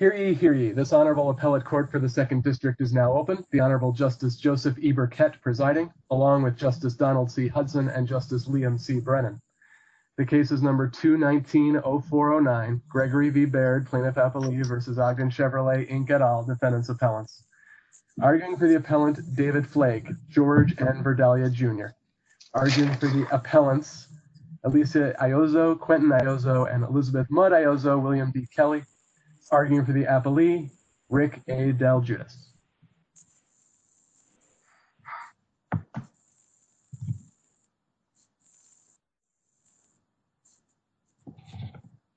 Hear ye, hear ye. This Honorable Appellate Court for the 2nd District is now open. The Honorable Justice Joseph E. Burkett presiding, along with Justice Donald C. Hudson and Justice Liam C. Brennan. The case is No. 219-0409, Gregory v. Baird, Plaintiff-Appellee v. Ogden-Chevrolet, Inc. et al., Defendants' Appellants. Arguing for the appellant, David Flake, George N. Elizabeth Mudd, Iozzo, William B. Kelly. Arguing for the appellee, Rick A. DelGius.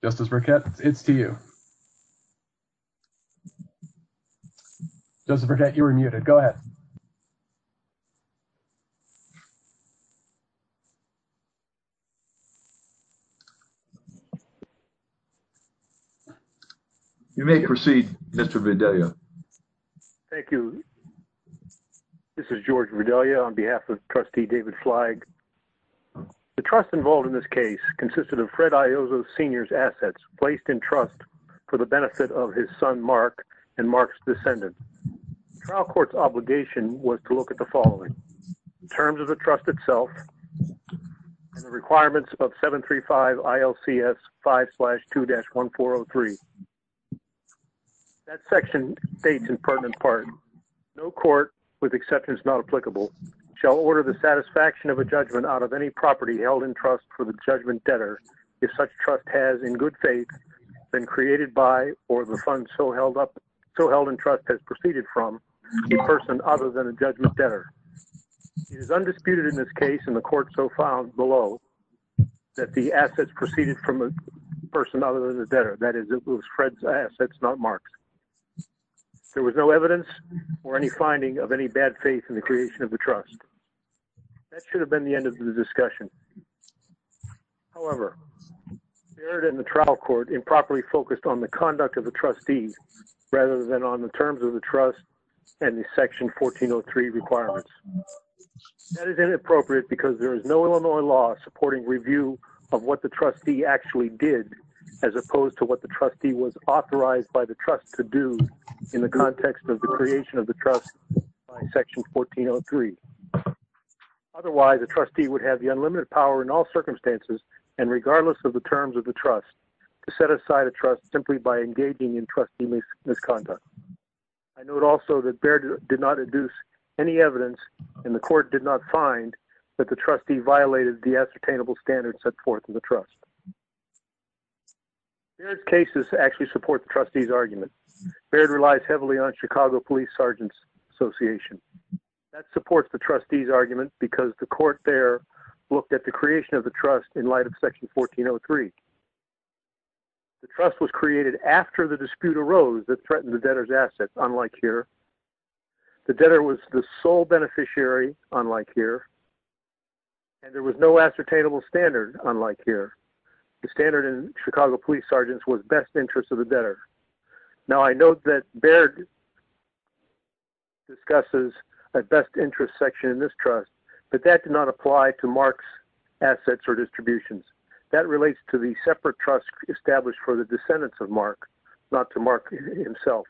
Justice Burkett, it's to you. Justice Burkett, you were muted. Go ahead. You may proceed, Mr. Vidalia. Thank you. This is George Vidalia on behalf of Trustee David Flake. The trust involved in this case consisted of Fred Iozzo Sr.'s assets placed in trust for the benefit of his son, Mark, and Mark's descendant. Trial court's obligation was to look at the following, in terms of the trust itself and the requirements of 735 ILCS 5-2-1403. That section states in pertinent part, no court, with exceptions not applicable, shall order the satisfaction of a judgment out of any property held in trust for the judgment debtor, if such trust has, in good faith, been created by or the person other than a judgment debtor. It is undisputed in this case and the court so found below that the assets proceeded from a person other than a debtor, that is, it was Fred's assets, not Mark's. There was no evidence or any finding of any bad faith in the creation of the trust. That should have been the end of the discussion. However, Merritt and the trial court improperly focused on the conduct of the trustees rather than on the terms of the trust and the section 1403 requirements. That is inappropriate because there is no Illinois law supporting review of what the trustee actually did as opposed to what the trustee was authorized by the trust to do in the context of the creation of the trust by section 1403. Otherwise, the trustee would have the unlimited power in all circumstances and regardless of the terms of the trust to set aside a trust simply by engaging in trustee misconduct. I note also that Baird did not induce any evidence and the court did not find that the trustee violated the ascertainable standards set forth in the trust. Baird's cases actually support the trustees argument. Baird relies heavily on Chicago Police Sergeants Association. That supports the trustees argument because the court there looked at the creation of the trust in light of section 1403. The trust was created after the dispute arose that threatened the debtor's assets, unlike here. The debtor was the sole beneficiary, unlike here, and there was no ascertainable standard, unlike here. The standard in Chicago Police Sergeants was best interest of the debtor. Now, I note that Baird discusses a best interest section in this trust, but that did not apply to Mark's assets or distributions. That relates to the separate trust established for the descendants of Mark, not to Mark himself.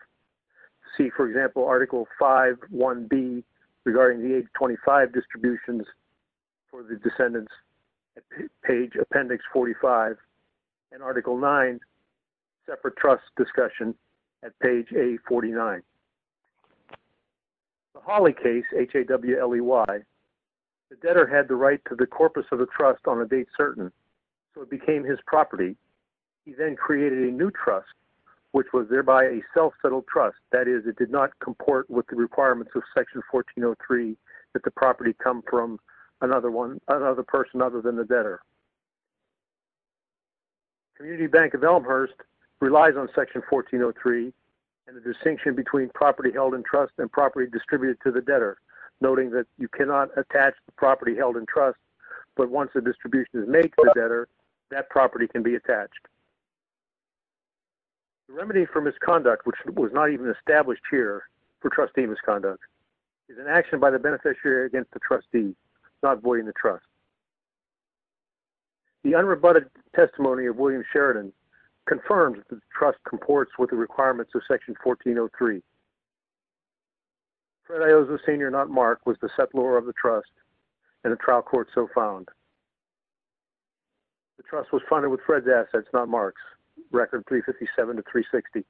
See, for example, Article 5.1.B regarding the 825 distributions for the descendants, page appendix 45, and Article 9, separate trust discussion at page A49. The Hawley case, H-A-W-L-E-Y, the debtor had the right to the corpus of the trust on a date certain, so it became his property. He then created a new trust, which was thereby a self-settled trust. That is, it did not comport with the requirements of section 1403 that the property come from another person other than the debtor. Community Bank of Elmhurst relies on section 1403 and the property held in trust and property distributed to the debtor, noting that you cannot attach the property held in trust, but once the distribution is made to the debtor, that property can be attached. The remedy for misconduct, which was not even established here for trustee misconduct, is an action by the beneficiary against the trustee, not voiding the trust. The unrebutted testimony of William Sheridan confirms that the trust comports with the trust. Fred Iozzo, Sr., not Mark, was the settlor of the trust, and a trial court so found. The trust was funded with Fred's assets, not Mark's, record 357 to 360.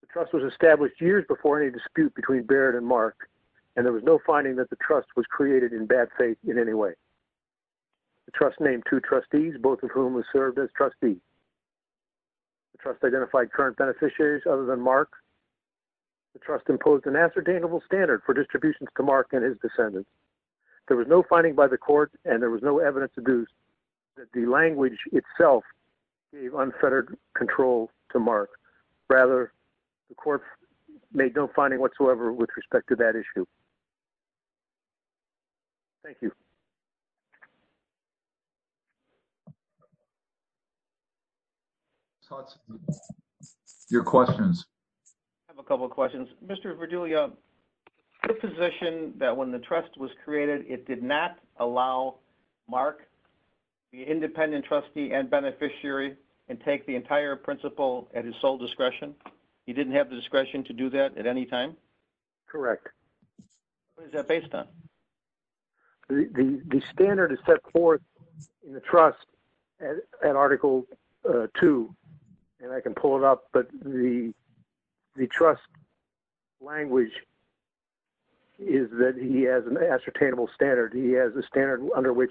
The trust was established years before any dispute between Barrett and Mark, and there was no finding that the trust was created in bad faith in any way. The trust named two trustees, both of whom served as trustees. The trust identified current beneficiaries other than Mark. The trust imposed an ascertainable standard for distributions to Mark and his descendants. There was no finding by the court, and there was no evidence to do that the language itself gave unfettered control to Mark. Rather, the court made no finding whatsoever with respect to that issue. Thank you. Your questions. I have a couple of questions. Mr. Verduglia, the position that when the trust was created, it did not allow Mark, the independent trustee and beneficiary, and take the entire principle at his sole discretion, he didn't have the discretion to do that at any time? Correct. What is that based on? The standard is set forth in the trust at Article 2, and I can pull it up, but the trust language is that he has an ascertainable standard. He has a standard under which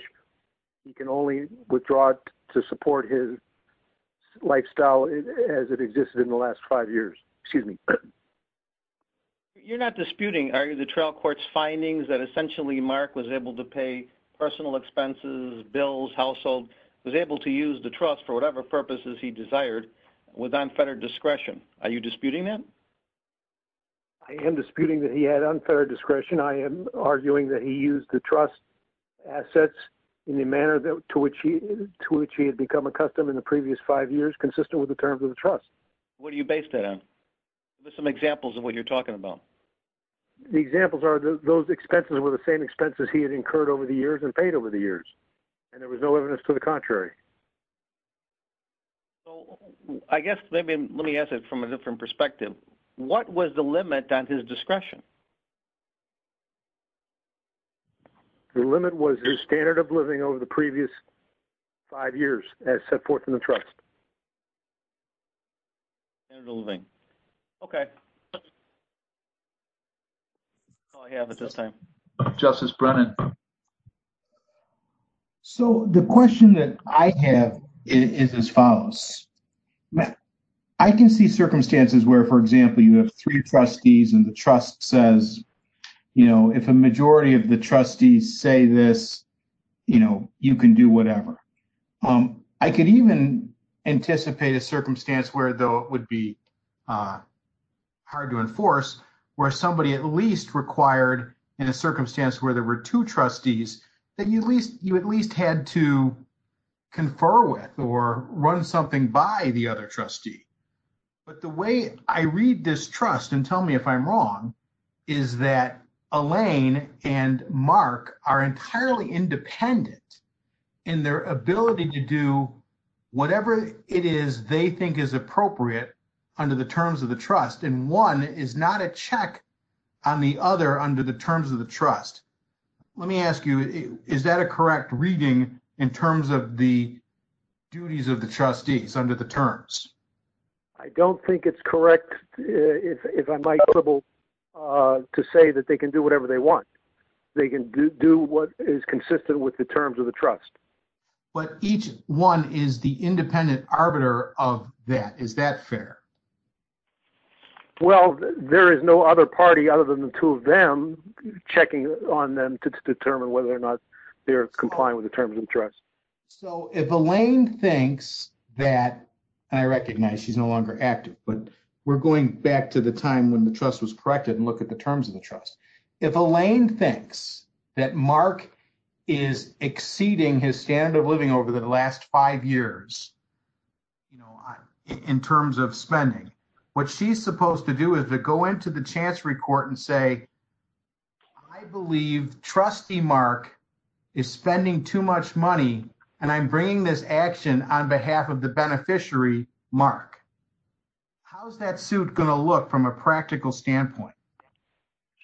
he can only withdraw to support his lifestyle as it existed in the last five years. Excuse me. You're not disputing, are you, the trial court's findings that essentially Mark was able to pay personal expenses, bills, household, was able to use the trust for whatever purposes he desired with unfettered discretion. Are you disputing that? I am disputing that he had unfettered discretion. I am arguing that he used the trust assets in the manner to which he had become accustomed in the previous five years, consistent with the terms of the trust. What do you base that on? Give us some examples of what you're talking about. The examples are those expenses were the same expenses he had incurred over the years and paid over the years, and there was no evidence to the contrary. So, I guess maybe let me ask it from a different perspective. What was the limit on his discretion? The limit was his standard of living over the previous five years as set forth in the trust. Standard of living. Okay. I have it this time. Justice Brennan. So, the question that I have is as follows. I can see circumstances where, for example, you have three trustees and the trust says, you know, if a majority of the trustees say this, you know, you can do whatever. I could even anticipate a circumstance where, though it would be hard to enforce, where somebody at least required in a circumstance where there were two trustees that you at least had to confer with or run something by the other trustee. But the way I read this trust, and tell me if I'm wrong, is that Elaine and Mark are entirely independent in their ability to do whatever it is they think is appropriate under the terms of the trust, and one is not a check on the other under the terms of the trust. Let me ask you, is that a correct reading in terms of the duties of the trustees under the terms? I don't think it's correct, if I might be able to say that they can do whatever they want. They can do what is consistent with the terms of the trust. But each one is the independent arbiter of that. Is that fair? Well, there is no other party other than the two of them checking on them to determine whether or not they're complying with the terms of the trust. So, if Elaine thinks that, and I recognize she's no longer active, but we're going back to the time when the trust was corrected and look at the terms of the trust. If Elaine thinks that Mark is exceeding his standard of living over the last five years in terms of spending, what she's supposed to do is to go into the chance report and say, I believe trustee Mark is spending too much money and I'm bringing this action on behalf of the beneficiary Mark. How's that suit going to look from a practical standpoint?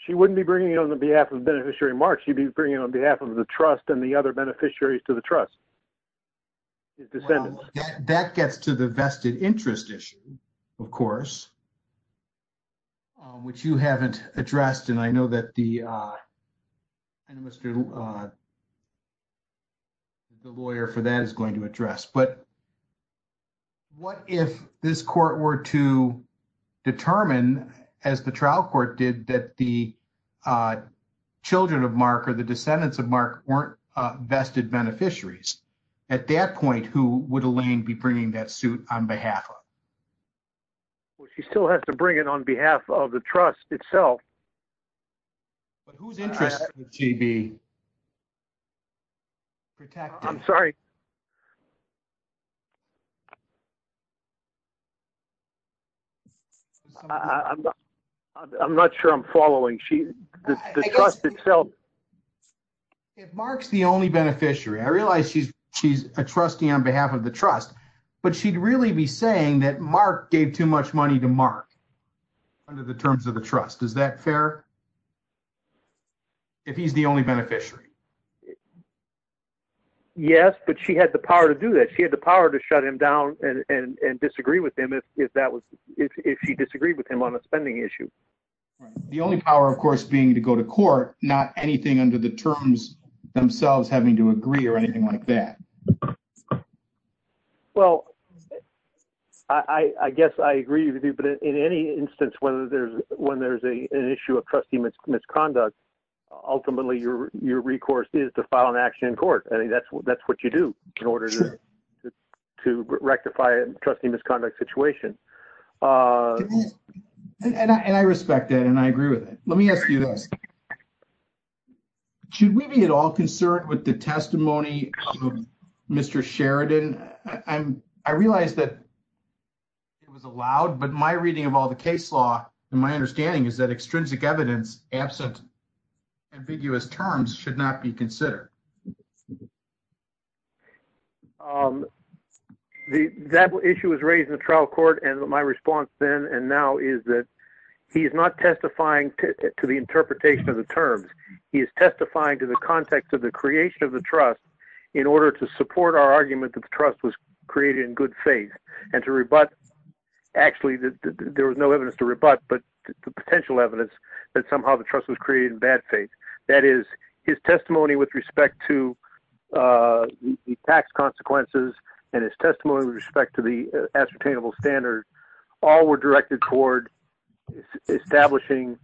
She wouldn't be bringing it on the behalf of the beneficiary Mark, she'd be bringing it on behalf of the trust and the other beneficiaries to the trust. That gets to the vested interest issue, of course, which you haven't addressed and I know that the lawyer for that is going to address. But what if this court were to determine as the trial court did that the children of Mark or the descendants of Mark weren't vested beneficiaries? At that point, who would Elaine be bringing that suit on behalf of? Well, she still has to bring it on behalf of the trust itself. I'm not sure I'm following. If Mark's the only beneficiary, I realize she's a trustee on behalf of the trust, but she'd really be saying that Mark gave too much money to Mark under the terms of the trust. Is that fair? If he's the only beneficiary? Yes, but she had the power to do that. She had the power to shut him down and disagree with him if she disagreed with him on a spending issue. The only power, of course, being to go to court, not anything under the terms themselves having to agree or anything like that. Well, I guess I agree with you, but in any instance, when there's an issue of trustee misconduct, ultimately your recourse is to file an action in court. That's what you do in order to rectify a trustee misconduct situation. I respect that and I agree with it. Let me ask you a question. Should we be at all concerned with the testimony of Mr. Sheridan? I realize that it was allowed, but my reading of all the case law and my understanding is that extrinsic evidence absent ambiguous terms should not be considered. That issue was raised in the trial court and my response then and now is that he is not testifying to the interpretation of the terms. He is testifying to the context of the creation of the trust in order to support our argument that the trust was created in good faith and to rebut. Actually, there was no evidence to rebut, but the potential evidence that somehow the trust was created in bad faith. That is his testimony with respect to the tax consequences and his testimony with respect to the ascertainable standards. All were directed toward establishing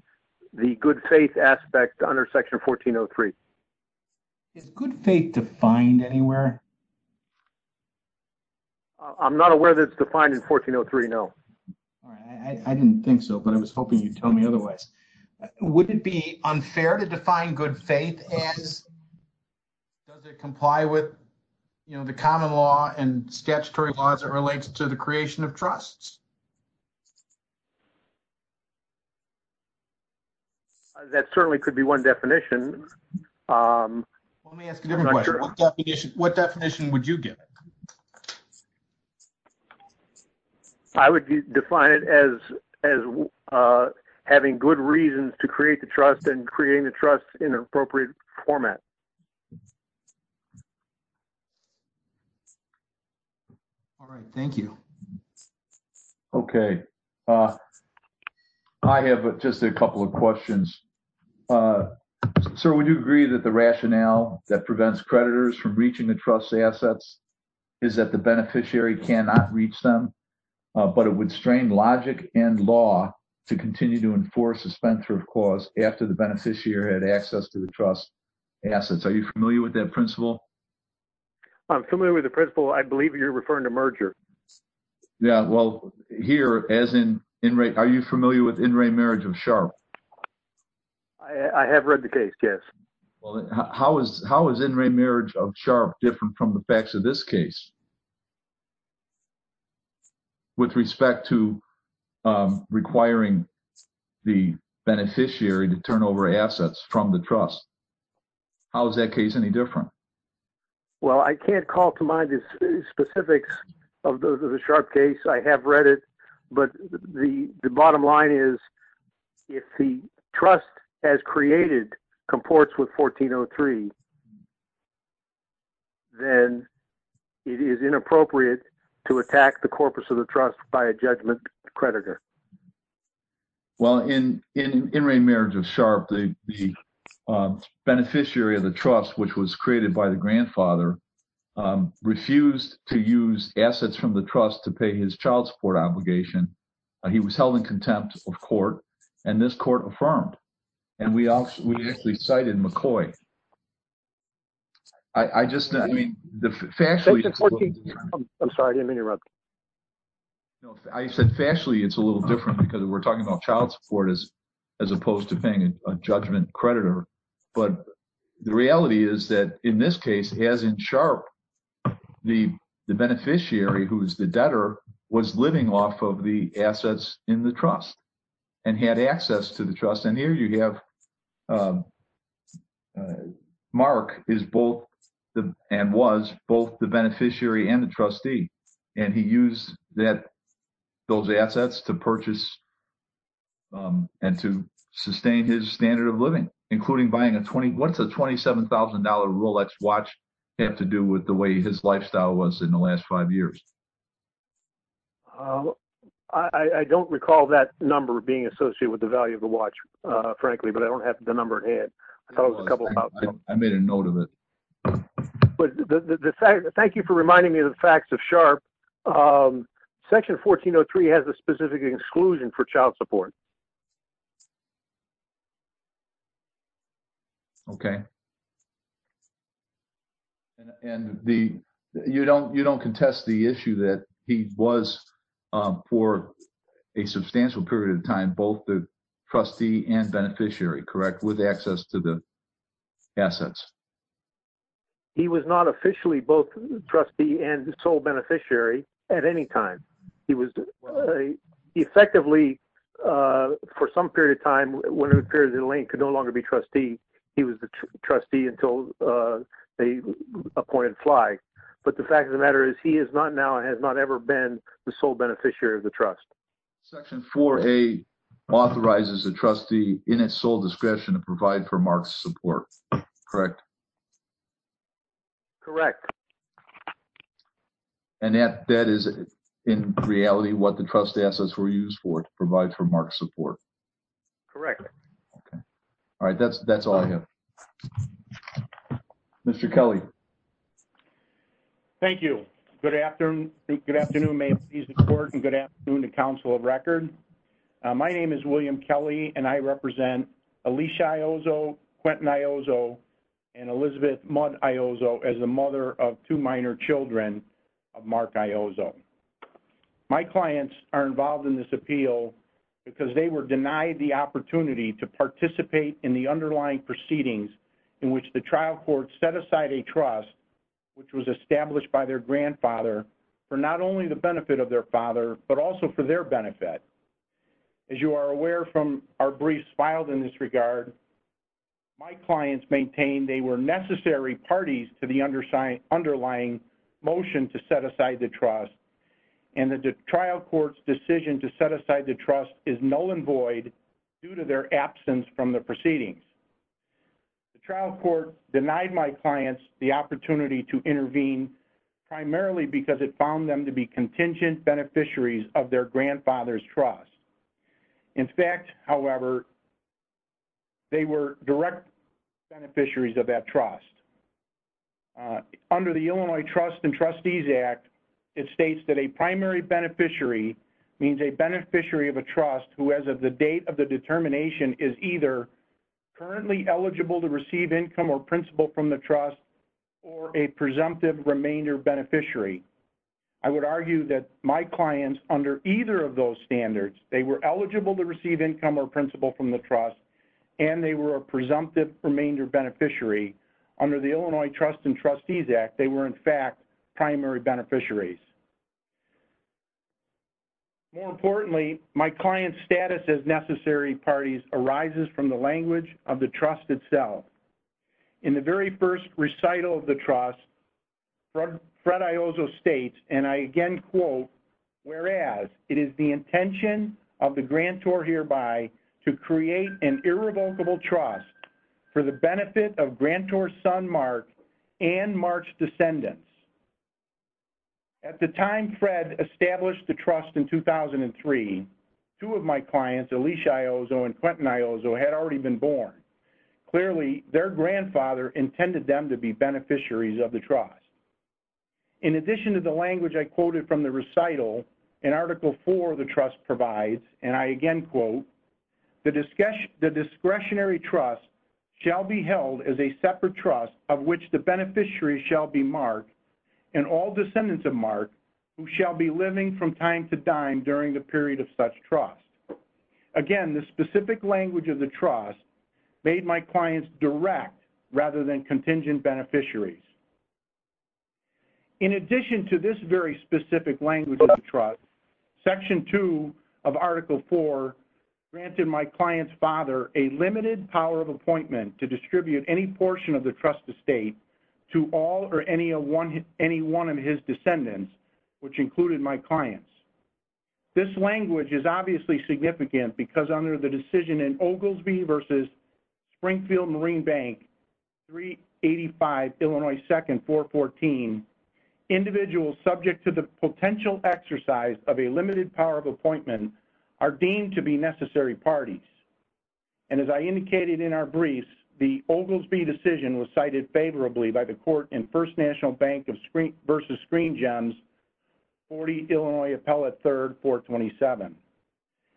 the good faith aspect under section 1403. Is good faith defined anywhere? I'm not aware that it's defined in 1403, no. I didn't think so, but I was hoping you'd tell me otherwise. Would it be unfair to define good faith as does it comply with the common law and statutory laws that relates to the creation of trusts? That certainly could be one definition. Let me ask a different question. What definition would you give it? I would define it as having good reasons to create the trust and creating the trust in an appropriate format. All right. Thank you. Okay. I have just a couple of questions. Sir, would you agree that the rationale that prevents creditors from reaching the trust's assets is that the beneficiary cannot reach them, but it would strain logic and law to continue to the trust's assets? Are you familiar with that principle? I'm familiar with the principle. I believe you're referring to merger. Yeah. Well, here, as in in rate, are you familiar with in-ray marriage of sharp? I have read the case. Yes. How is in-ray marriage of sharp different from the facts of this case with respect to requiring the beneficiary to turn over assets from the trust? How is that case any different? Well, I can't call to mind the specifics of the sharp case. I have read it, but the bottom line is if the trust as created comports with 1403, then it is inappropriate to attack the corpus of the trust by a judgment creditor. Well, in in-ray marriage of sharp, the beneficiary of the trust, which was created by the grandfather, refused to use assets from the trust to pay his child support obligation. He was held in contempt of court, and this court affirmed. And we actually cited McCoy. I just, I mean, the factually... I'm sorry, I didn't mean to interrupt. I said factually it's a little different because we're talking about child support as opposed to paying a judgment creditor. But the reality is that in this case, as in sharp, the beneficiary, who is the debtor, was living off of the assets in the trust and had access to the trust. And here you have Mark is both and was both the beneficiary and the trustee. And he used that, those assets to purchase and to sustain his standard of living, including buying a 20, what's a $27,000 Rolex watch had to do with the way his lifestyle was in the last five years. I don't recall that number being associated with the value of the watch, frankly, but I don't have the number in hand. I made a note of it. Thank you for reminding me of the facts of sharp. Section 1403 has a specific exclusion for child support. Okay. And you don't contest the issue that he was for a substantial period of time, both the trustee and beneficiary, correct? With access to the assets. He was not officially both trustee and sole beneficiary at any time. He was effectively for some period of time, when it appears that Elaine could no longer be trustee, he was the trustee until they appointed fly. But the fact of the matter is he is not now, has not ever been the sole beneficiary of the trust. Section 4A authorizes a trustee in its sole discretion to provide for Mark's support, correct? Correct. Okay. And that, that is in reality, what the trust assets were used for to provide for Mark support. Correct. Okay. All right. That's, that's all I have. Mr. Kelly. Thank you. Good afternoon. Good afternoon, ma'am. He's important. Good afternoon. The council of record. My name is William Kelly and I represent Alicia Iozzo, Quentin Iozzo and Elizabeth Mudd Iozzo as the mother of two minor children of Mark Iozzo. My clients are involved in this appeal because they were denied the opportunity to participate in the underlying proceedings in which the trial court set aside a trust, which was established by their grandfather for not only the benefit of their father, but also for their benefit. As you are aware from our briefs filed in this regard, my clients maintain they were necessary parties to the underlying motion to set aside the trust. And the trial court's decision to set aside the trust is null and void due to their absence from the proceedings. The trial court denied my clients the opportunity to intervene primarily because it was contingent beneficiaries of their grandfather's trust. In fact, however, they were direct beneficiaries of that trust. Under the Illinois Trust and Trustees Act, it states that a primary beneficiary means a beneficiary of a trust who as of the date of the determination is either currently eligible to receive income or principal from the trust or a presumptive remainder beneficiary. I would argue that my clients under either of those standards, they were eligible to receive income or principal from the trust and they were a presumptive remainder beneficiary. Under the Illinois Trust and Trustees Act, they were in fact primary beneficiaries. More importantly, my client's status as necessary parties arises from the language of the trust itself. In the very first recital of the trust, Fred Iozzo states, and I again quote, whereas it is the intention of the grantor hereby to create an irrevocable trust for the benefit of grantor's son Mark and Mark's descendants. At the time Fred established the trust in 2003, two of my clients, Elisha Iozzo and Quentin Iozzo, had already been born. Clearly, their grandfather intended them to be beneficiaries of the trust. In addition to the language I quoted from the recital, in Article 4 of the trust provides, and I again quote, the discretionary trust shall be held as a separate trust of which the beneficiaries shall be Mark and all descendants of Mark who shall be living from time to time during the period of such trust. Again, the specific language of the trust made my clients direct rather than contingent beneficiaries. In addition to this very specific language of the trust, Section 2 of Article 4 granted my client's father a limited power of appointment to distribute any portion of the trust estate to all or any one of his descendants, which included my clients. This language is obviously significant because under the decision in Oglesby versus Springfield Marine Bank 385 Illinois 2nd 414, individuals subject to the potential exercise of a limited power of appointment are deemed to be necessary parties. And as I indicated in our briefs, the Oglesby decision was cited favorably by the court in First National Bank of versus Screen Gems 40 Illinois Appellate 3rd 427.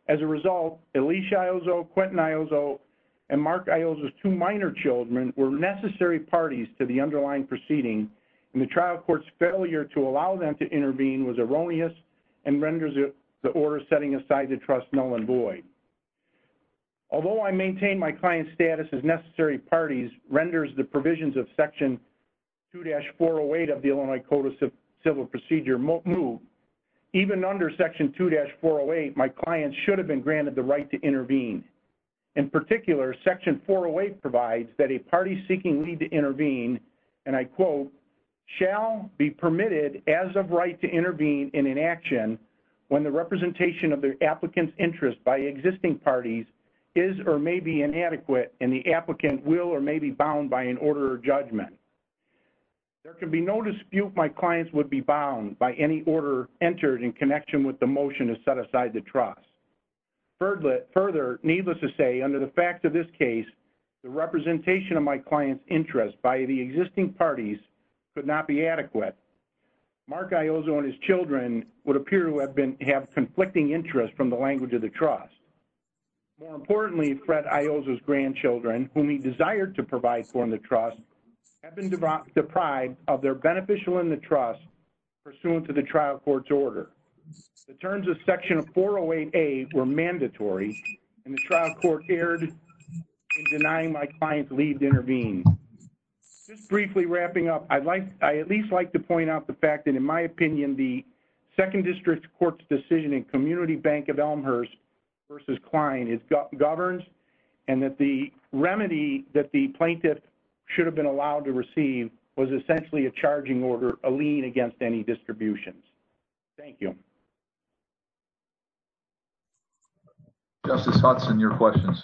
As a result, Elisha Iozzo, Quentin Iozzo, and Mark Iozzo's two minor children were necessary parties to the underlying proceeding, and the trial court's failure to allow them to intervene was erroneous and renders the order setting aside the trust null and void. Although I maintain my client's status as necessary parties renders the provisions of Section 2-408 of the Illinois Code of Civil Procedure move, even under Section 2-408, my client should have been granted the right to intervene. In particular, Section 408 provides that a party seeking leave to intervene, and I quote, shall be permitted as of right to intervene in an action when the representation of the applicant's by existing parties is or may be inadequate, and the applicant will or may be bound by an order of judgment. There can be no dispute my clients would be bound by any order entered in connection with the motion to set aside the trust. Further, needless to say, under the fact of this case, the representation of my client's interest by the existing parties could not be adequate. Mark Iozzo and his children would appear to have been have conflicting interest from the language of the trust. More importantly, Fred Iozzo's grandchildren, whom he desired to provide for in the trust, have been deprived of their beneficial in the trust pursuant to the trial court's order. The terms of Section 408A were mandatory, and the trial court erred in denying my client's leave to intervene. Just briefly wrapping up, I'd like, I at least like to point out the fact that in my opinion, the Second District Court's decision in Community Bank of Elmhurst versus Kline is, governs, and that the remedy that the plaintiff should have been allowed to receive was essentially a charging order, a lien against any distributions. Thank you. Justice Hudson, your questions.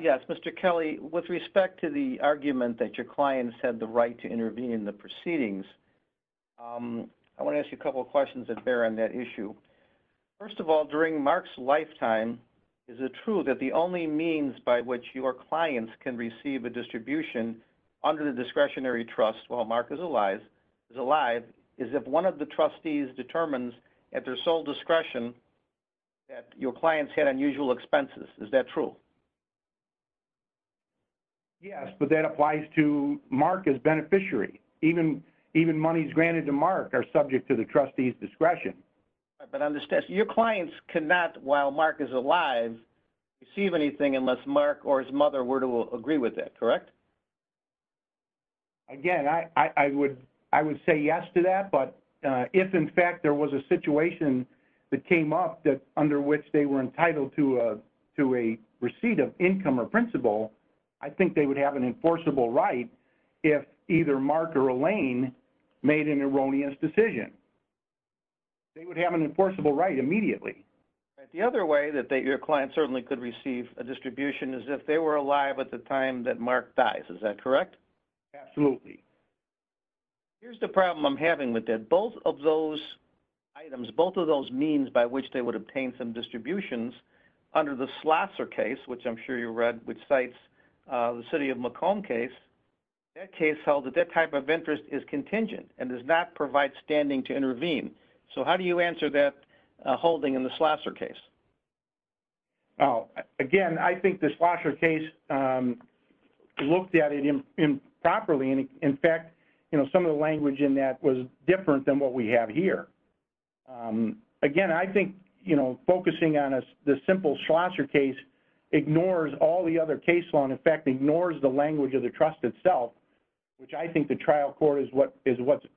Yes, Mr. Kelly, with respect to the argument that your clients had the right to intervene in the proceedings, I want to ask you a couple of questions that bear on that issue. First of all, during Mark's lifetime, is it true that the only means by which your clients can receive a distribution under the discretionary trust while Mark is alive is if one of the trustees determines at their sole discretion that your clients had unusual expenses? Is that true? Yes, but that applies to Mark as beneficiary. Even, even monies granted to Mark are subject to the trustee's discretion. But on this test, your clients cannot, while Mark is alive, receive anything unless Mark or his mother were to agree with that, correct? Again, I would, I would say yes to that, but if in fact there was a situation that came up that which they were entitled to a, to a receipt of income or principal, I think they would have an enforceable right if either Mark or Elaine made an erroneous decision. They would have an enforceable right immediately. The other way that they, your client certainly could receive a distribution is if they were alive at the time that Mark dies, is that correct? Absolutely. Here's the problem I'm having with that. Both of those items, both of those means by which they would obtain some distributions under the Slosser case, which I'm sure you read, which cites the city of Macomb case, that case held that that type of interest is contingent and does not provide standing to intervene. So how do you answer that holding in the Slosser case? Oh, again, I think the Slosser case looked at it improperly. In fact, you know, some of the language in that was different than what we have here. Again, I think, you know, focusing on the simple Slosser case ignores all the other case law. In fact, ignores the language of the trust itself, which I think the trial court is what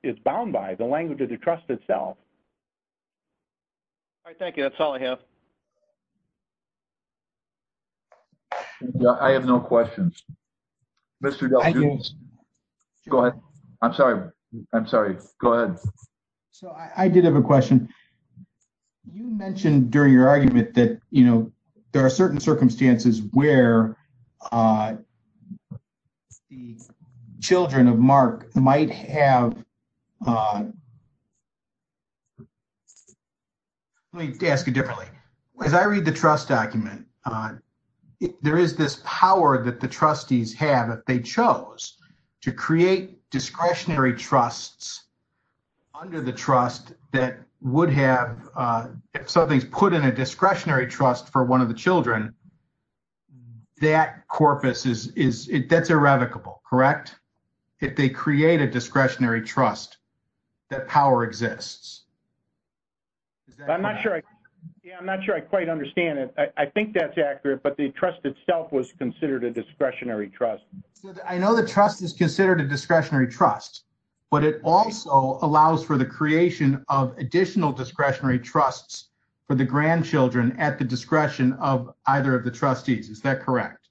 is bound by, the language of the trust itself. All right, thank you. That's all I have. Thank you. I have no questions. Mr. Del Giusto. Go ahead. I'm sorry. I'm sorry. Go ahead. So I did have a question. You mentioned during your argument that, you know, there are certain circumstances where the children of Mark might have... Let me ask it differently. As I read the trust document, there is this power that the trustees have, if they chose, to create discretionary trusts under the trust that would have... If something's put in a discretionary trust for one of the children, that corpus is... That's irrevocable, correct? If they create a discretionary trust, that power exists. I'm not sure I quite understand it. I think that's accurate, but the trust itself was considered a discretionary trust. I know the trust is considered a discretionary trust, but it also allows for the creation of additional discretionary trusts for the grandchildren at the discretion of either of the trustees. Is that correct?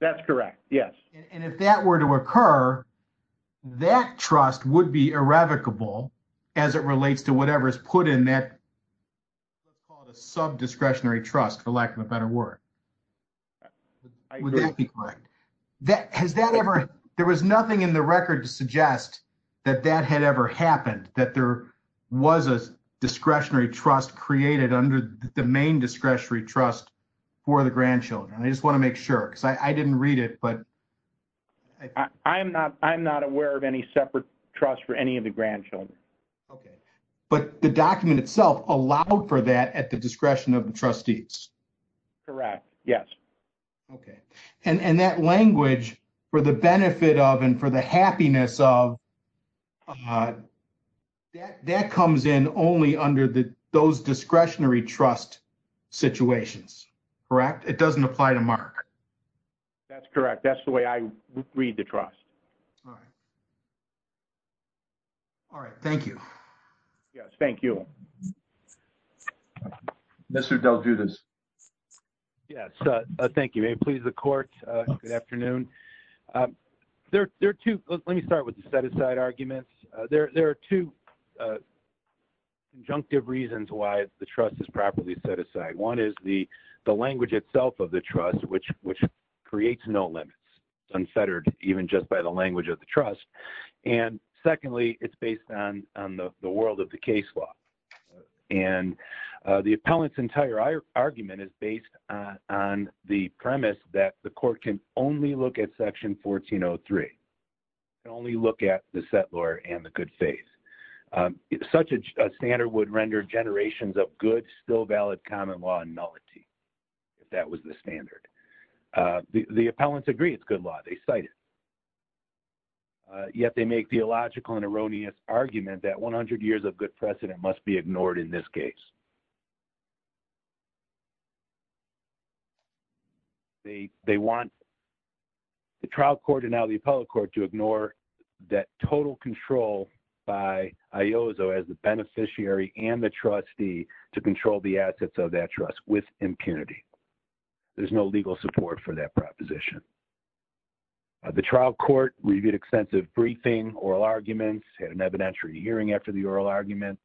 That's correct. Yes. And if that were to occur, that trust would be irrevocable as it relates to whatever is put in that sub-discretionary trust, for lack of a better word. Would that be correct? Has that ever... There was nothing in the record to suggest that that had ever happened, that there was a discretionary trust created under the main discretionary trust for the grandchildren. I just want to make sure because I didn't read it, but... I'm not aware of any separate trust for any of the grandchildren. Okay. But the document itself allowed for that at the discretion of the trustees? Correct. Yes. Okay. And that language for the benefit of and for the happiness of, that comes in only under those discretionary trust situations. Correct? It doesn't apply to Mark. That's correct. That's the way I read the trust. All right. All right. Thank you. Yes. Thank you. Mr. Del Giudice. Yes. Thank you. May it please the court. Good afternoon. There are two... Let me start with the set-aside arguments. There are two conjunctive reasons why the trust is properly set-aside. One is the language itself of the trust, which creates no limits, unfettered even just by the language of the trust. And secondly, it's based on the world of the case law. And the appellant's entire argument is based on the premise that the court can only look at Section 1403, can only look at the settlor and the good faith. Such a standard would render generations of good, still valid common law nullity, if that was the standard. The appellants agree it's good law. They cite it. Yet they make theological and erroneous argument that 100 years of good precedent must be ignored in this case. They want the trial court and now the appellate court to ignore that total control by Iozo as the beneficiary and the trustee to control the assets of that trust with impunity. There's no legal support for that proposition. The trial court reviewed extensive briefing, oral arguments, had an evidentiary hearing after the oral arguments,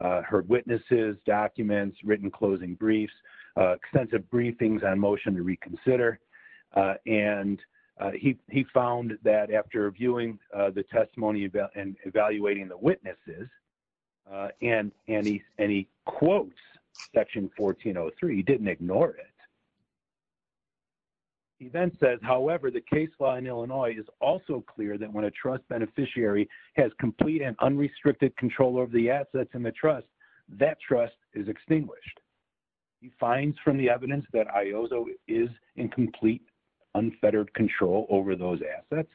heard witnesses, documents, written closing briefs, extensive briefings on motion to reconsider. And he found that after viewing the testimony and evaluating the witnesses, and he quotes Section 1403, he didn't ignore it. He then says, however, the case law in Illinois is also clear that when a trust beneficiary has complete and unrestricted control over the assets and the trust, that trust is extinguished. He finds from the evidence that Iozo is in complete unfettered control over those assets,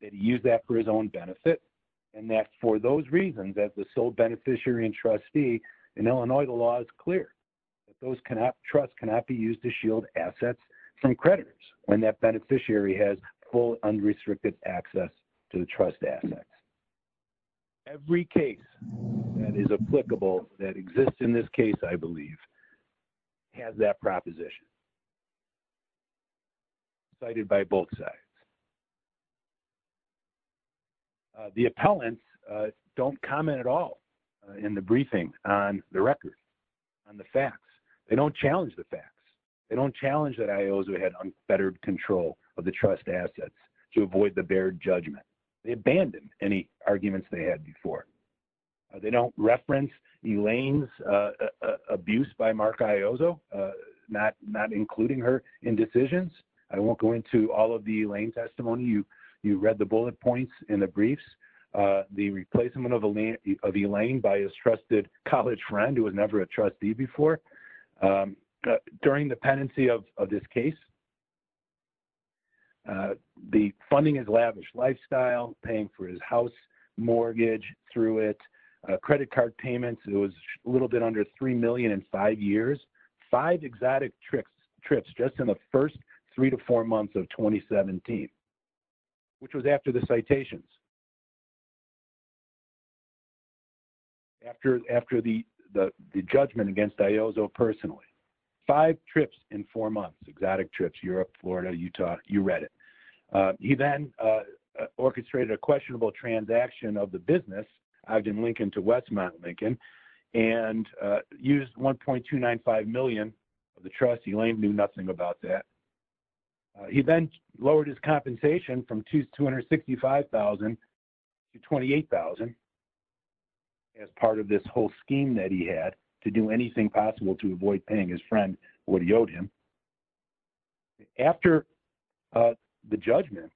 that he used that for his own benefit, and that for those reasons, as the sole beneficiary and trustee in Illinois, the law is clear that those trust cannot be used to shield assets from creditors when that beneficiary has full unrestricted access to the trust assets. Every case that is applicable that exists in this case, I believe, has that proposition. Cited by both sides. The appellants don't comment at all in the briefing on the record, on the facts. They don't challenge the facts. They don't challenge that Iozo had unfettered control of the trust assets to avoid the bare judgment. They abandoned any arguments they had before. They don't reference Elaine's abuse by Mark Iozo, not including her in decisions. I won't go into all of the Elaine's testimony. You read the bullet points in the briefs. The replacement of Elaine by his trusted college friend who was never a trustee before. But during the pendency of this case, the funding is lavish. Lifestyle, paying for his house mortgage through it, credit card payments, it was a little bit under $3 million in five years. Five exotic trips just in the first three to four months of 2017, which was after the citations. After the judgment against Iozo personally. Five trips in four months. Exotic trips. Europe, Florida, Utah. You read it. He then orchestrated a questionable transaction of the business, Ogden Lincoln to West Mount Lincoln, and used $1.295 million of the trust. Elaine knew nothing about that. He then lowered his compensation from $265,000 to $28,000 as part of this whole scheme that he had to do anything possible to avoid paying his friend what he owed him. After the judgment,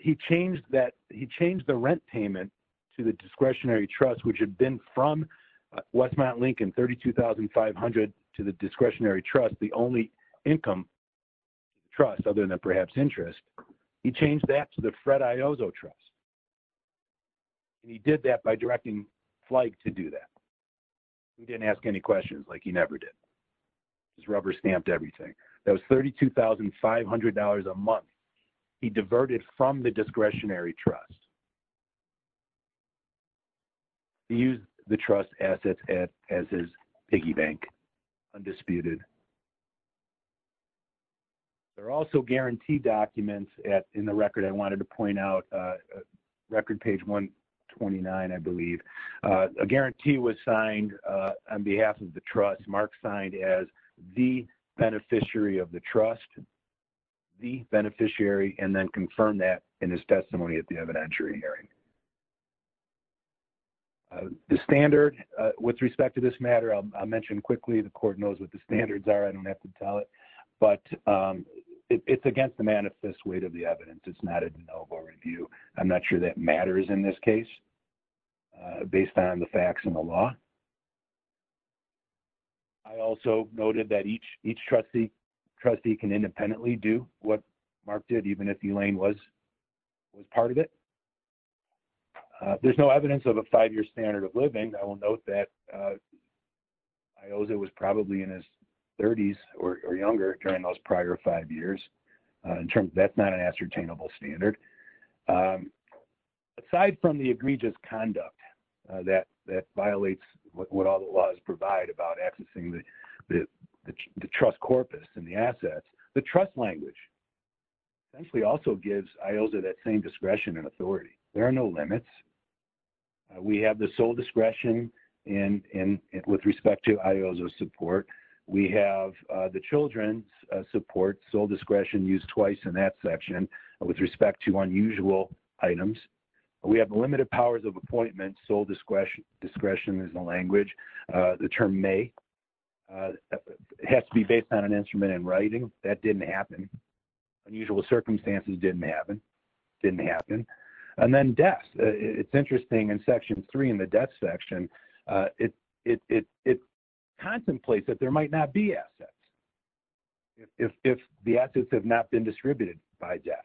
he changed the rent payment to the discretionary trust, which had been from West Mount Lincoln, $32,500 to the discretionary trust, the only income trust other than perhaps interest. He changed that to the Fred Iozo trust. He did that by directing Flake to do that. He didn't ask any questions like he never did. Just rubber stamped everything. That was $32,500 a month he diverted from the discretionary trust. He used the trust assets as his piggy bank. Undisputed. There are also guarantee documents in the record I wanted to point out. Record page 129, I believe. A guarantee was signed on behalf of the trust. Mark signed as the beneficiary of the trust. The beneficiary and then confirmed that in his testimony at the evidentiary hearing. The standard with respect to this matter, I'll mention quickly the court knows what the standards are. I don't have to tell it. But it's against the manifest weight of the evidence. It's not a de novo review. I'm not sure that matters in this case based on the facts and the law. I also noted that each trustee can independently do what Mark did even if Elaine was part of it. There's no evidence of a five-year standard of living. I will note that Iozo was probably in his 30s or younger during those prior five years. That's not an ascertainable standard. Aside from the egregious conduct that violates what all the laws provide about accessing the trust corpus and the assets, the trust language essentially also gives Iozo that same discretion and authority. There are no limits. We have the sole discretion with respect to Iozo's support. We have the children's support, sole discretion used twice in that section with respect to unusual items. We have limited powers of appointment, sole discretion is the language. The term may has to be based on an instrument in writing. That didn't happen. Unusual circumstances didn't happen. And then death. It's interesting in section three in the death section, it contemplates that there might not be assets if the assets have not been distributed by death.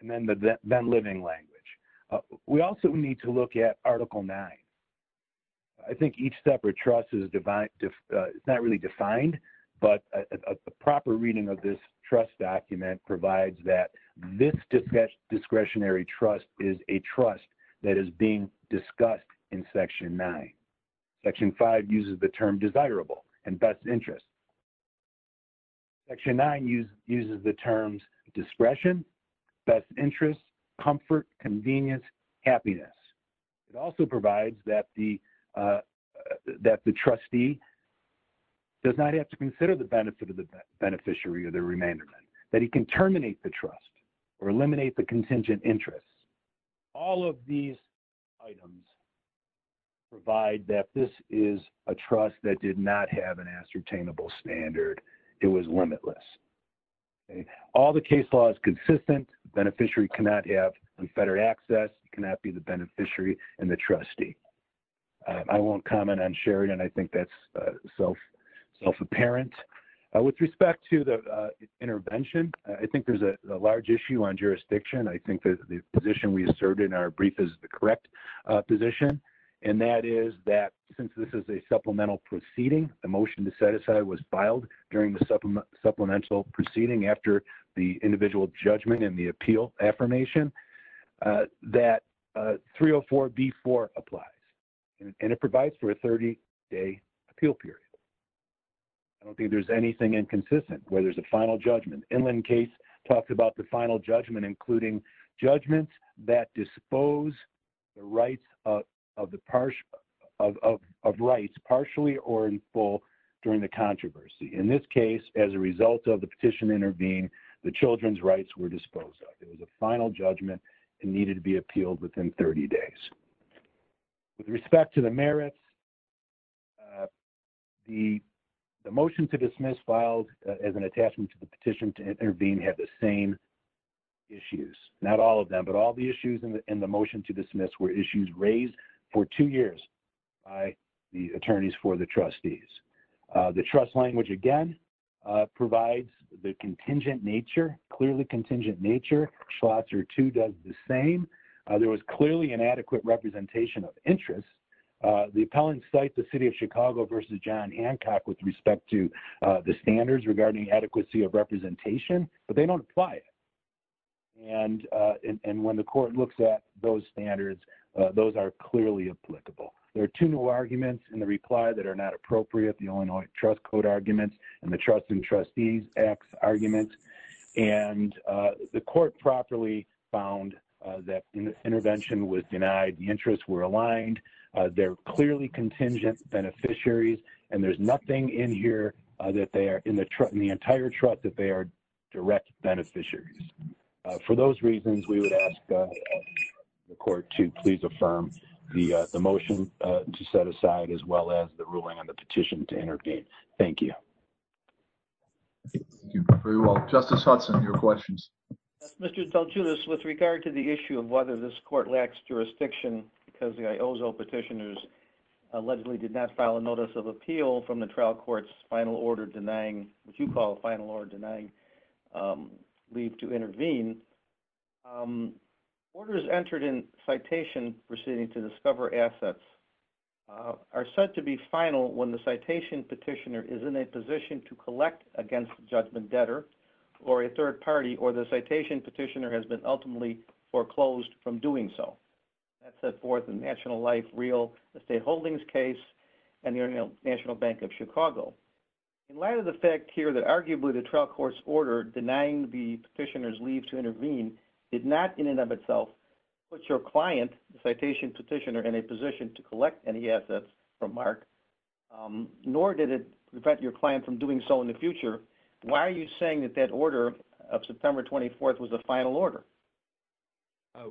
And then living language. We also need to look at article nine. I think each separate trust is not really defined, but a proper reading of this trust document provides that this discretionary trust is a trust that is being discussed in section nine. Section five uses the term desirable and best interest. Section nine uses the terms discretion, best interest, comfort, convenience, happiness. It also provides that the trustee does not have to consider the benefit of the beneficiary or the remanderment, that he can terminate the trust or eliminate the contingent interest. All of these items provide that this is a trust that did not have an ascertainable standard. It was limitless. All the case law is consistent. Beneficiary cannot have confederate access, cannot be the beneficiary and the trustee. I won't comment on Sheridan. I think that's self-apparent. With respect to the intervention, I think there's a large issue on jurisdiction. I think that the position we asserted in our brief is the correct position, and that is that since this is a supplemental proceeding, the motion to set aside was filed during the supplemental proceeding after the individual judgment and the appeal affirmation, that 304B4 applies. And it provides for a 30-day appeal period. I don't think there's anything inconsistent where there's a final judgment. Inland case talks about the final judgment, including judgments that dispose of rights partially or in full during the controversy. In this case, as a result of the petition intervened, the children's rights were disposed of. It was a final judgment and needed to be appealed within 30 days. With respect to the motion to dismiss, filed as an attachment to the petition to intervene, had the same issues. Not all of them, but all the issues in the motion to dismiss were issues raised for two years by the attorneys for the trustees. The trust language, again, provides the contingent nature, clearly contingent nature. Schlotzer, too, does the same. There was clearly an adequate representation of interest. The appellant cites the city of Chicago versus John Hancock with respect to the standards regarding adequacy of representation, but they don't apply it. And when the court looks at those standards, those are clearly applicable. There are two new arguments in the reply that are not appropriate, the Illinois Trust Code arguments and the Trust and Trustees Act arguments. And the court properly found that intervention was denied, the interests were aligned, they're clearly contingent beneficiaries, and there's nothing in here that they are, in the entire trust, that they are direct beneficiaries. For those reasons, we would ask the court to please affirm the motion to set aside as well as the ruling on the petition to intervene. Thank you. Thank you very much. Justice Hudson, your questions. Mr. DelGiulis, with regard to the issue of whether this court lacks jurisdiction because the IOZO petitioners allegedly did not file a notice of appeal from the trial court's final order denying, which you call a final order denying leave to intervene, orders entered in citation proceeding to discover assets are said to be final when the citation petitioner is in a position to collect against the judgment debtor or a third party or the National Life Real Estate Holdings case and the International Bank of Chicago. In light of the fact here that arguably the trial court's order denying the petitioner's leave to intervene did not in and of itself put your client, the citation petitioner, in a position to collect any assets from Mark, nor did it prevent your client from doing so in the future, why are you saying that that order of September 24th was the final order?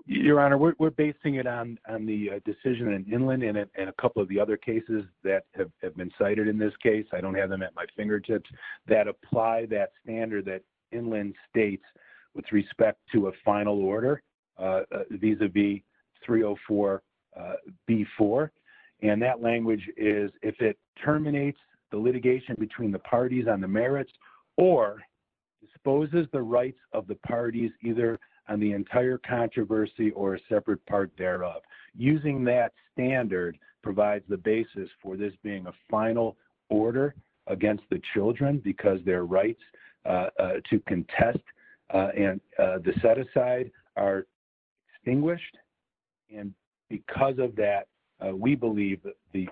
Your Honor, we're basing it on the decision in Inland and a couple of the other cases that have been cited in this case, I don't have them at my fingertips, that apply that standard that Inland states with respect to a final order vis-a-vis 304B4, and that language is if it terminates the litigation between the parties on the merits or exposes the rights of the parties either on the entire controversy or a separate part thereof. Using that standard provides the basis for this being a final order against the children because their rights to contest and the set-aside are extinguished, and because of that we believe the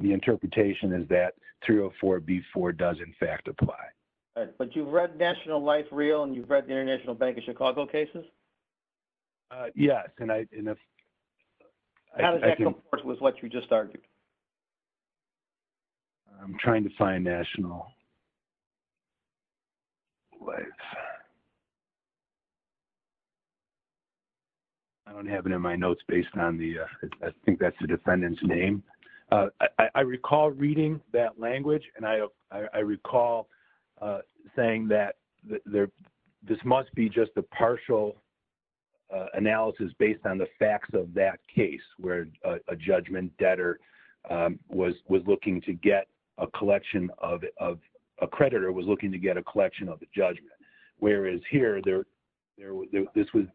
interpretation is that 304B4 does in fact apply. But you've read National Life Real and you've read the International Bank of Chicago cases? Yes. How does that compare with what you just argued? I'm trying to find National Life. I don't have it in my notes based on the, I think that's the defendant's name. I recall reading that language and I recall saying that this must be just a partial analysis based on the facts of that case where a judgment debtor was looking to get a collection of, a creditor was looking to get a collection of the judgment, whereas here the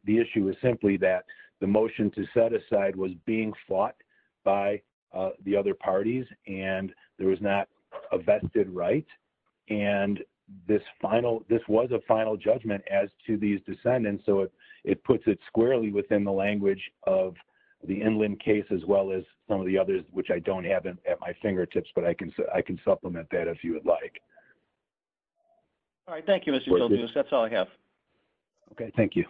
issue was simply that the motion to set aside was being fought by the other parties and there was not a vested right and this final, this was a final judgment as to these descendants, so it puts it squarely within the language of the Inland case as well as some of the others which I don't have at my fingertips, but I can supplement that if you would like. All right, thank you Mr. Gilgamesh. That's all I have. Okay, thank you.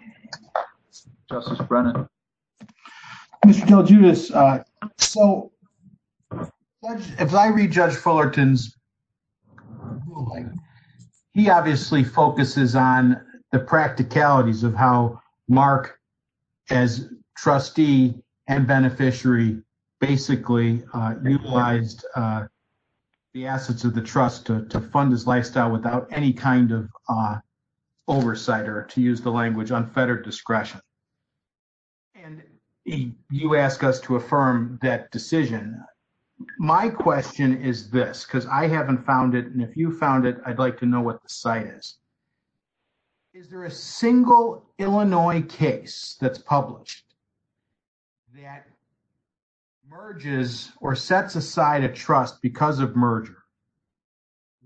Justice Brennan. Mr. DelGiudice, so if I read Judge Fullerton's ruling, he obviously focuses on the practicalities of how Mark as trustee and beneficiary basically utilized the assets of the trust to fund his lifestyle without any kind of oversight or to use the language unfettered discretion and you ask us to affirm that decision. My question is this because I haven't found it and if you found it I'd like to know what the site is. Is there a single Illinois case that's published that merges or sets aside a trust because of merger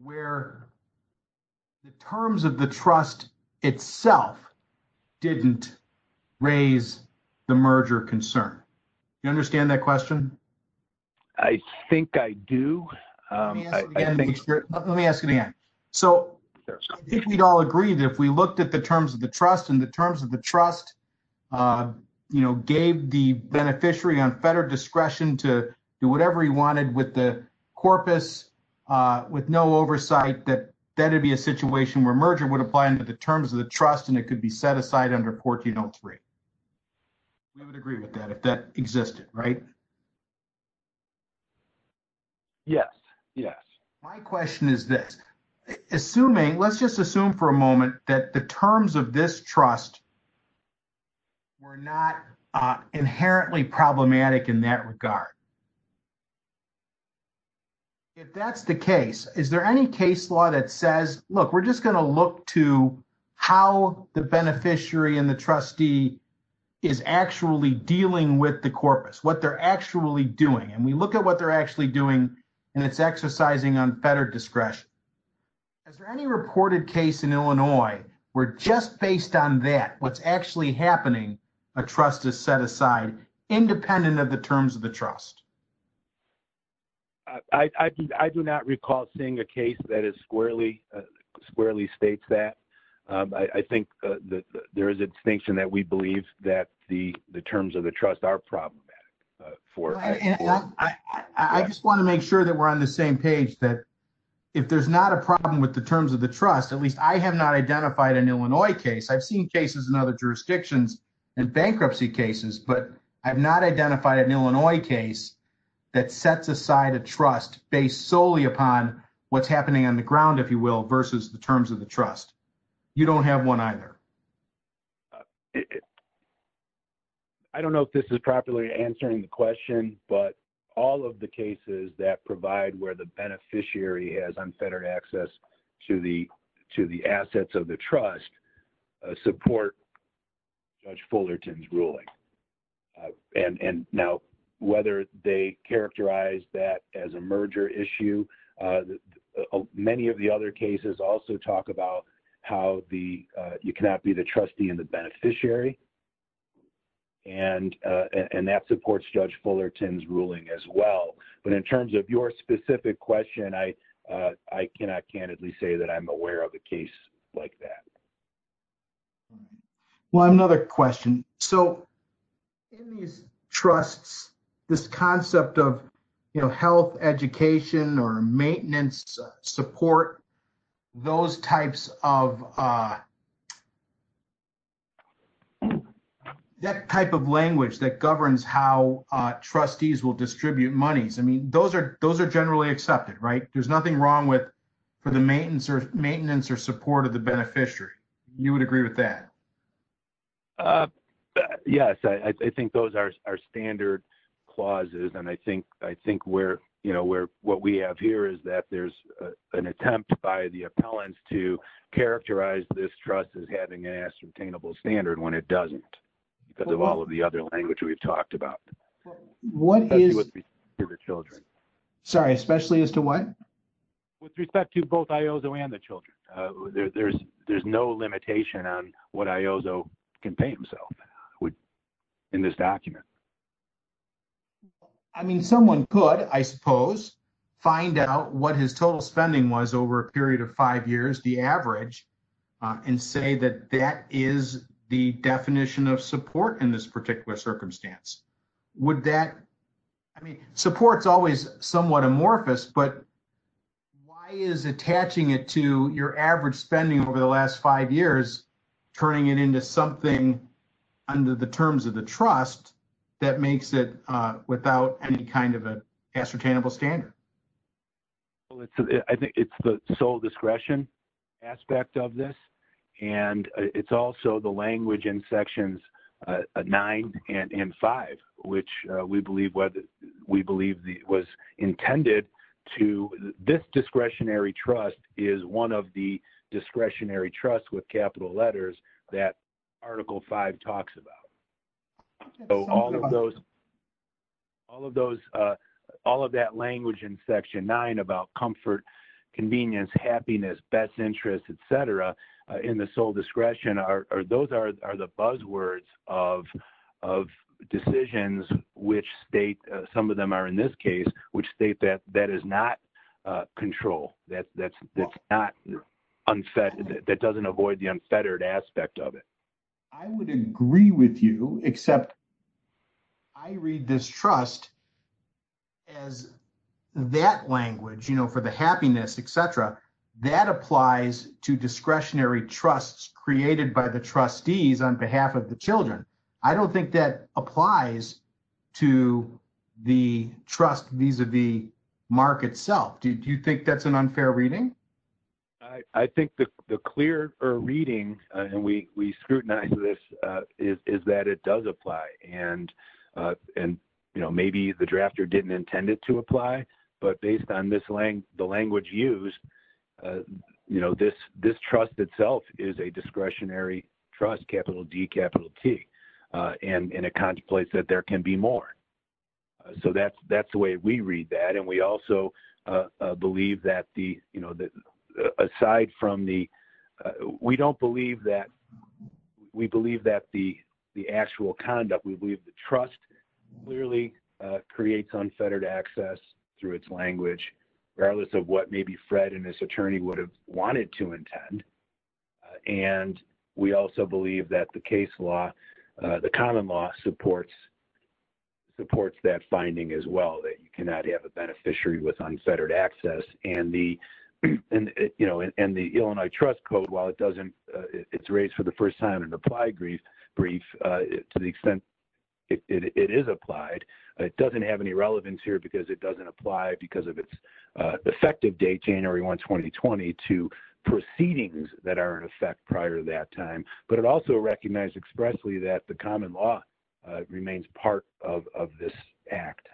where the terms of the trust itself didn't raise the merger concern? You understand that question? I think I do. Let me ask it again. So, I think we'd all agree that if we looked at the terms of the trust and the terms of the trust, you know, gave the beneficiary unfettered discretion to do whatever he wanted with the corpus with no oversight that that would be a situation where merger would apply into the terms of the trust and it could be set aside under 1403. We would agree with that if that existed, right? Yes, yes. My question is this. Assuming, let's just assume for a moment that the terms of this trust were not inherently problematic in that regard. If that's the case, is there any case that says, look, we're just going to look to how the beneficiary and the trustee is actually dealing with the corpus, what they're actually doing, and we look at what they're actually doing and it's exercising unfettered discretion. Is there any reported case in Illinois where just based on that, what's actually happening, a trust is set aside independent of the terms of the trust? I do not recall seeing a case that is squarely states that. I think there is a distinction that we believe that the terms of the trust are problematic. I just want to make sure that we're on the same page that if there's not a problem with the terms of the trust, at least I have not identified an Illinois case. I've seen cases in other jurisdictions and bankruptcy cases, but I've not identified an Illinois case that sets aside a trust based solely upon what's happening on the ground, if you will, versus the terms of the trust. You don't have one either. I don't know if this is properly answering the question, but all of the cases that provide where the beneficiary has unfettered access to the assets of the trust support Judge Fullerton's ruling. Whether they characterize that as a merger issue, many of the other cases also talk about how you cannot be the trustee and the beneficiary, and that supports Judge Fullerton's ruling as well. In terms of your specific question, I cannot candidly say that I'm aware of a case like that. Well, I have another question. So, in these trusts, this concept of health education or maintenance support, that type of language that governs how trustees will distribute monies, I mean, those are generally accepted, right? There's nothing wrong for the maintenance or support of the beneficiary. You would agree with that? Yes, I think those are our standard clauses, and I think what we have here is that there's an attempt by the appellants to characterize this trust as having an ascertainable standard when it doesn't, because of all of the other language we've talked about. Especially as to what? With respect to both Iozo and the children, there's no limitation on what Iozo can pay himself in this document. I mean, someone could, I suppose, find out what his total spending was over a period of five years, the average, and say that that is the definition of support in this document. Why is attaching it to your average spending over the last five years turning it into something under the terms of the trust that makes it without any kind of an ascertainable standard? Well, I think it's the sole discretion aspect of this, and it's also the language in sections 9 and 5, which we believe was intended to, this discretionary trust is one of the discretionary trusts with capital letters that article 5 talks about. All of that language in section 9 about comfort, convenience, happiness, best interest, et cetera, in the sole discretion, those are the buzzwords of decisions which state, some of them are in this case, which state that that is not control, that doesn't avoid the unfettered aspect of it. I would agree with you, except I read this trust as that language, you know, for the happiness, et cetera, that applies to discretionary trusts created by the trust vis-a-vis Mark itself. Do you think that's an unfair reading? I think the clear reading, and we scrutinize this, is that it does apply, and, you know, maybe the drafter didn't intend it to apply, but based on the language used, you know, this trust itself is a discretionary trust, capital D, capital T, and it contemplates that there can be more. So that's the way we read that, and we also believe that the, you know, aside from the, we don't believe that, we believe that the actual conduct, we believe the trust clearly creates unfettered access through its language, regardless of what maybe Fred and his attorney would have wanted to intend, and we also believe that the case law, the common law supports that finding as well, that you cannot have a beneficiary with unfettered access, and the, you know, and the Illinois trust code, while it doesn't, it's raised for the first time in an applied brief, to the extent it is applied, it doesn't have any relevance here because it doesn't apply because of its effective date, January 1, 2020, to proceedings that are in that the common law remains part of this act.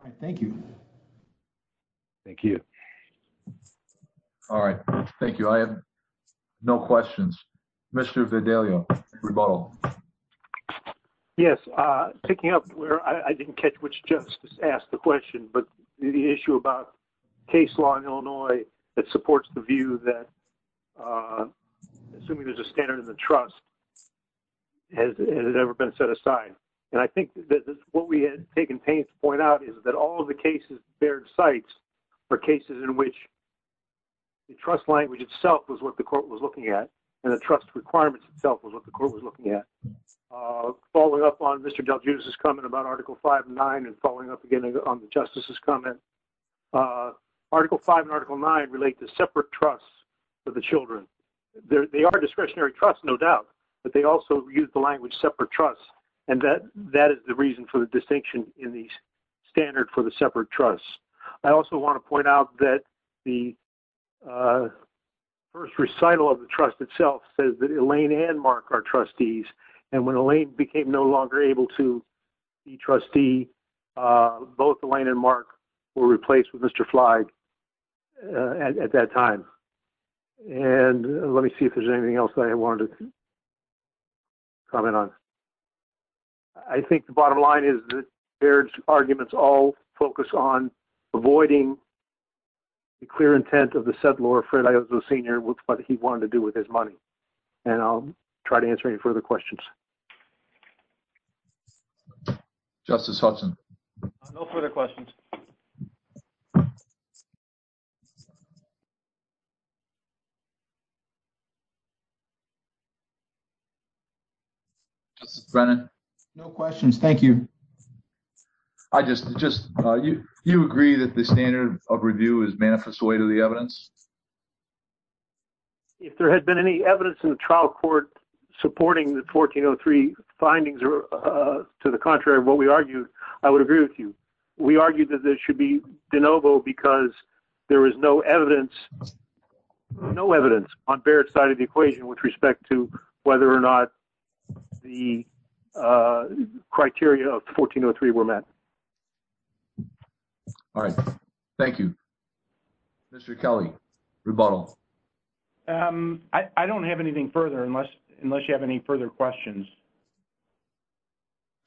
All right, thank you. Thank you. All right, thank you. I have no questions. Mr. Vidalio, rebuttal. Yes, picking up where I didn't catch which justice asked the question, but the issue about case law in Illinois that supports the view that, assuming there's a standard in the trust, has it ever been set aside? And I think that what we had taken pains to point out is that all of the cases, their sites, are cases in which the trust language itself was what the court was looking at, and the trust requirements itself was what the court was looking at. Following up on Mr. DelGiudice's comment about Article 5 and 9, and following up again on the justice's comment, Article 5 and Article 9 relate to separate trusts for the children. They are discretionary trusts, no doubt, but they also use the language separate trusts, and that is the reason for the distinction in the standard for the separate trusts. I also want to point out that the first recital of the trust itself says that Elaine and Mark are trustees, and when Elaine became no longer able to be a trustee, both Elaine and Mark were replaced with Mr. Flagg at that time. And let me see if there's anything else that I wanted to comment on. I think the bottom line is that their arguments all focus on avoiding the clear intent of the settlor, Fred Ayozo Sr., with what he wanted to do with his money, and I'll try to answer any further questions. Justice Hudson? No further questions. Justice Brennan? No questions, thank you. You agree that the standard of review is manifest way to the evidence? If there had been any evidence in the trial court supporting the 1403 findings or to the contrary of what we argued, I would agree with you. We argued that this should be de novo because there is no evidence, no evidence, on Barrett's side of the equation with respect to whether or not the criteria of 1403 were met. All right, thank you. Mr. Kelly, rebuttal? I don't have anything further unless you have any further questions.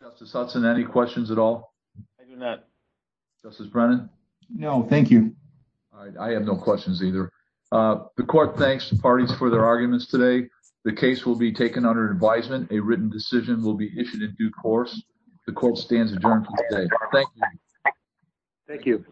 Justice Hudson, any questions at all? I do not. Justice Brennan? No, thank you. All right, I have no questions either. The court thanks the parties for their arguments today. The case will be taken under advisement. A written decision will be issued in due course. The court stands adjourned for today. Thank you.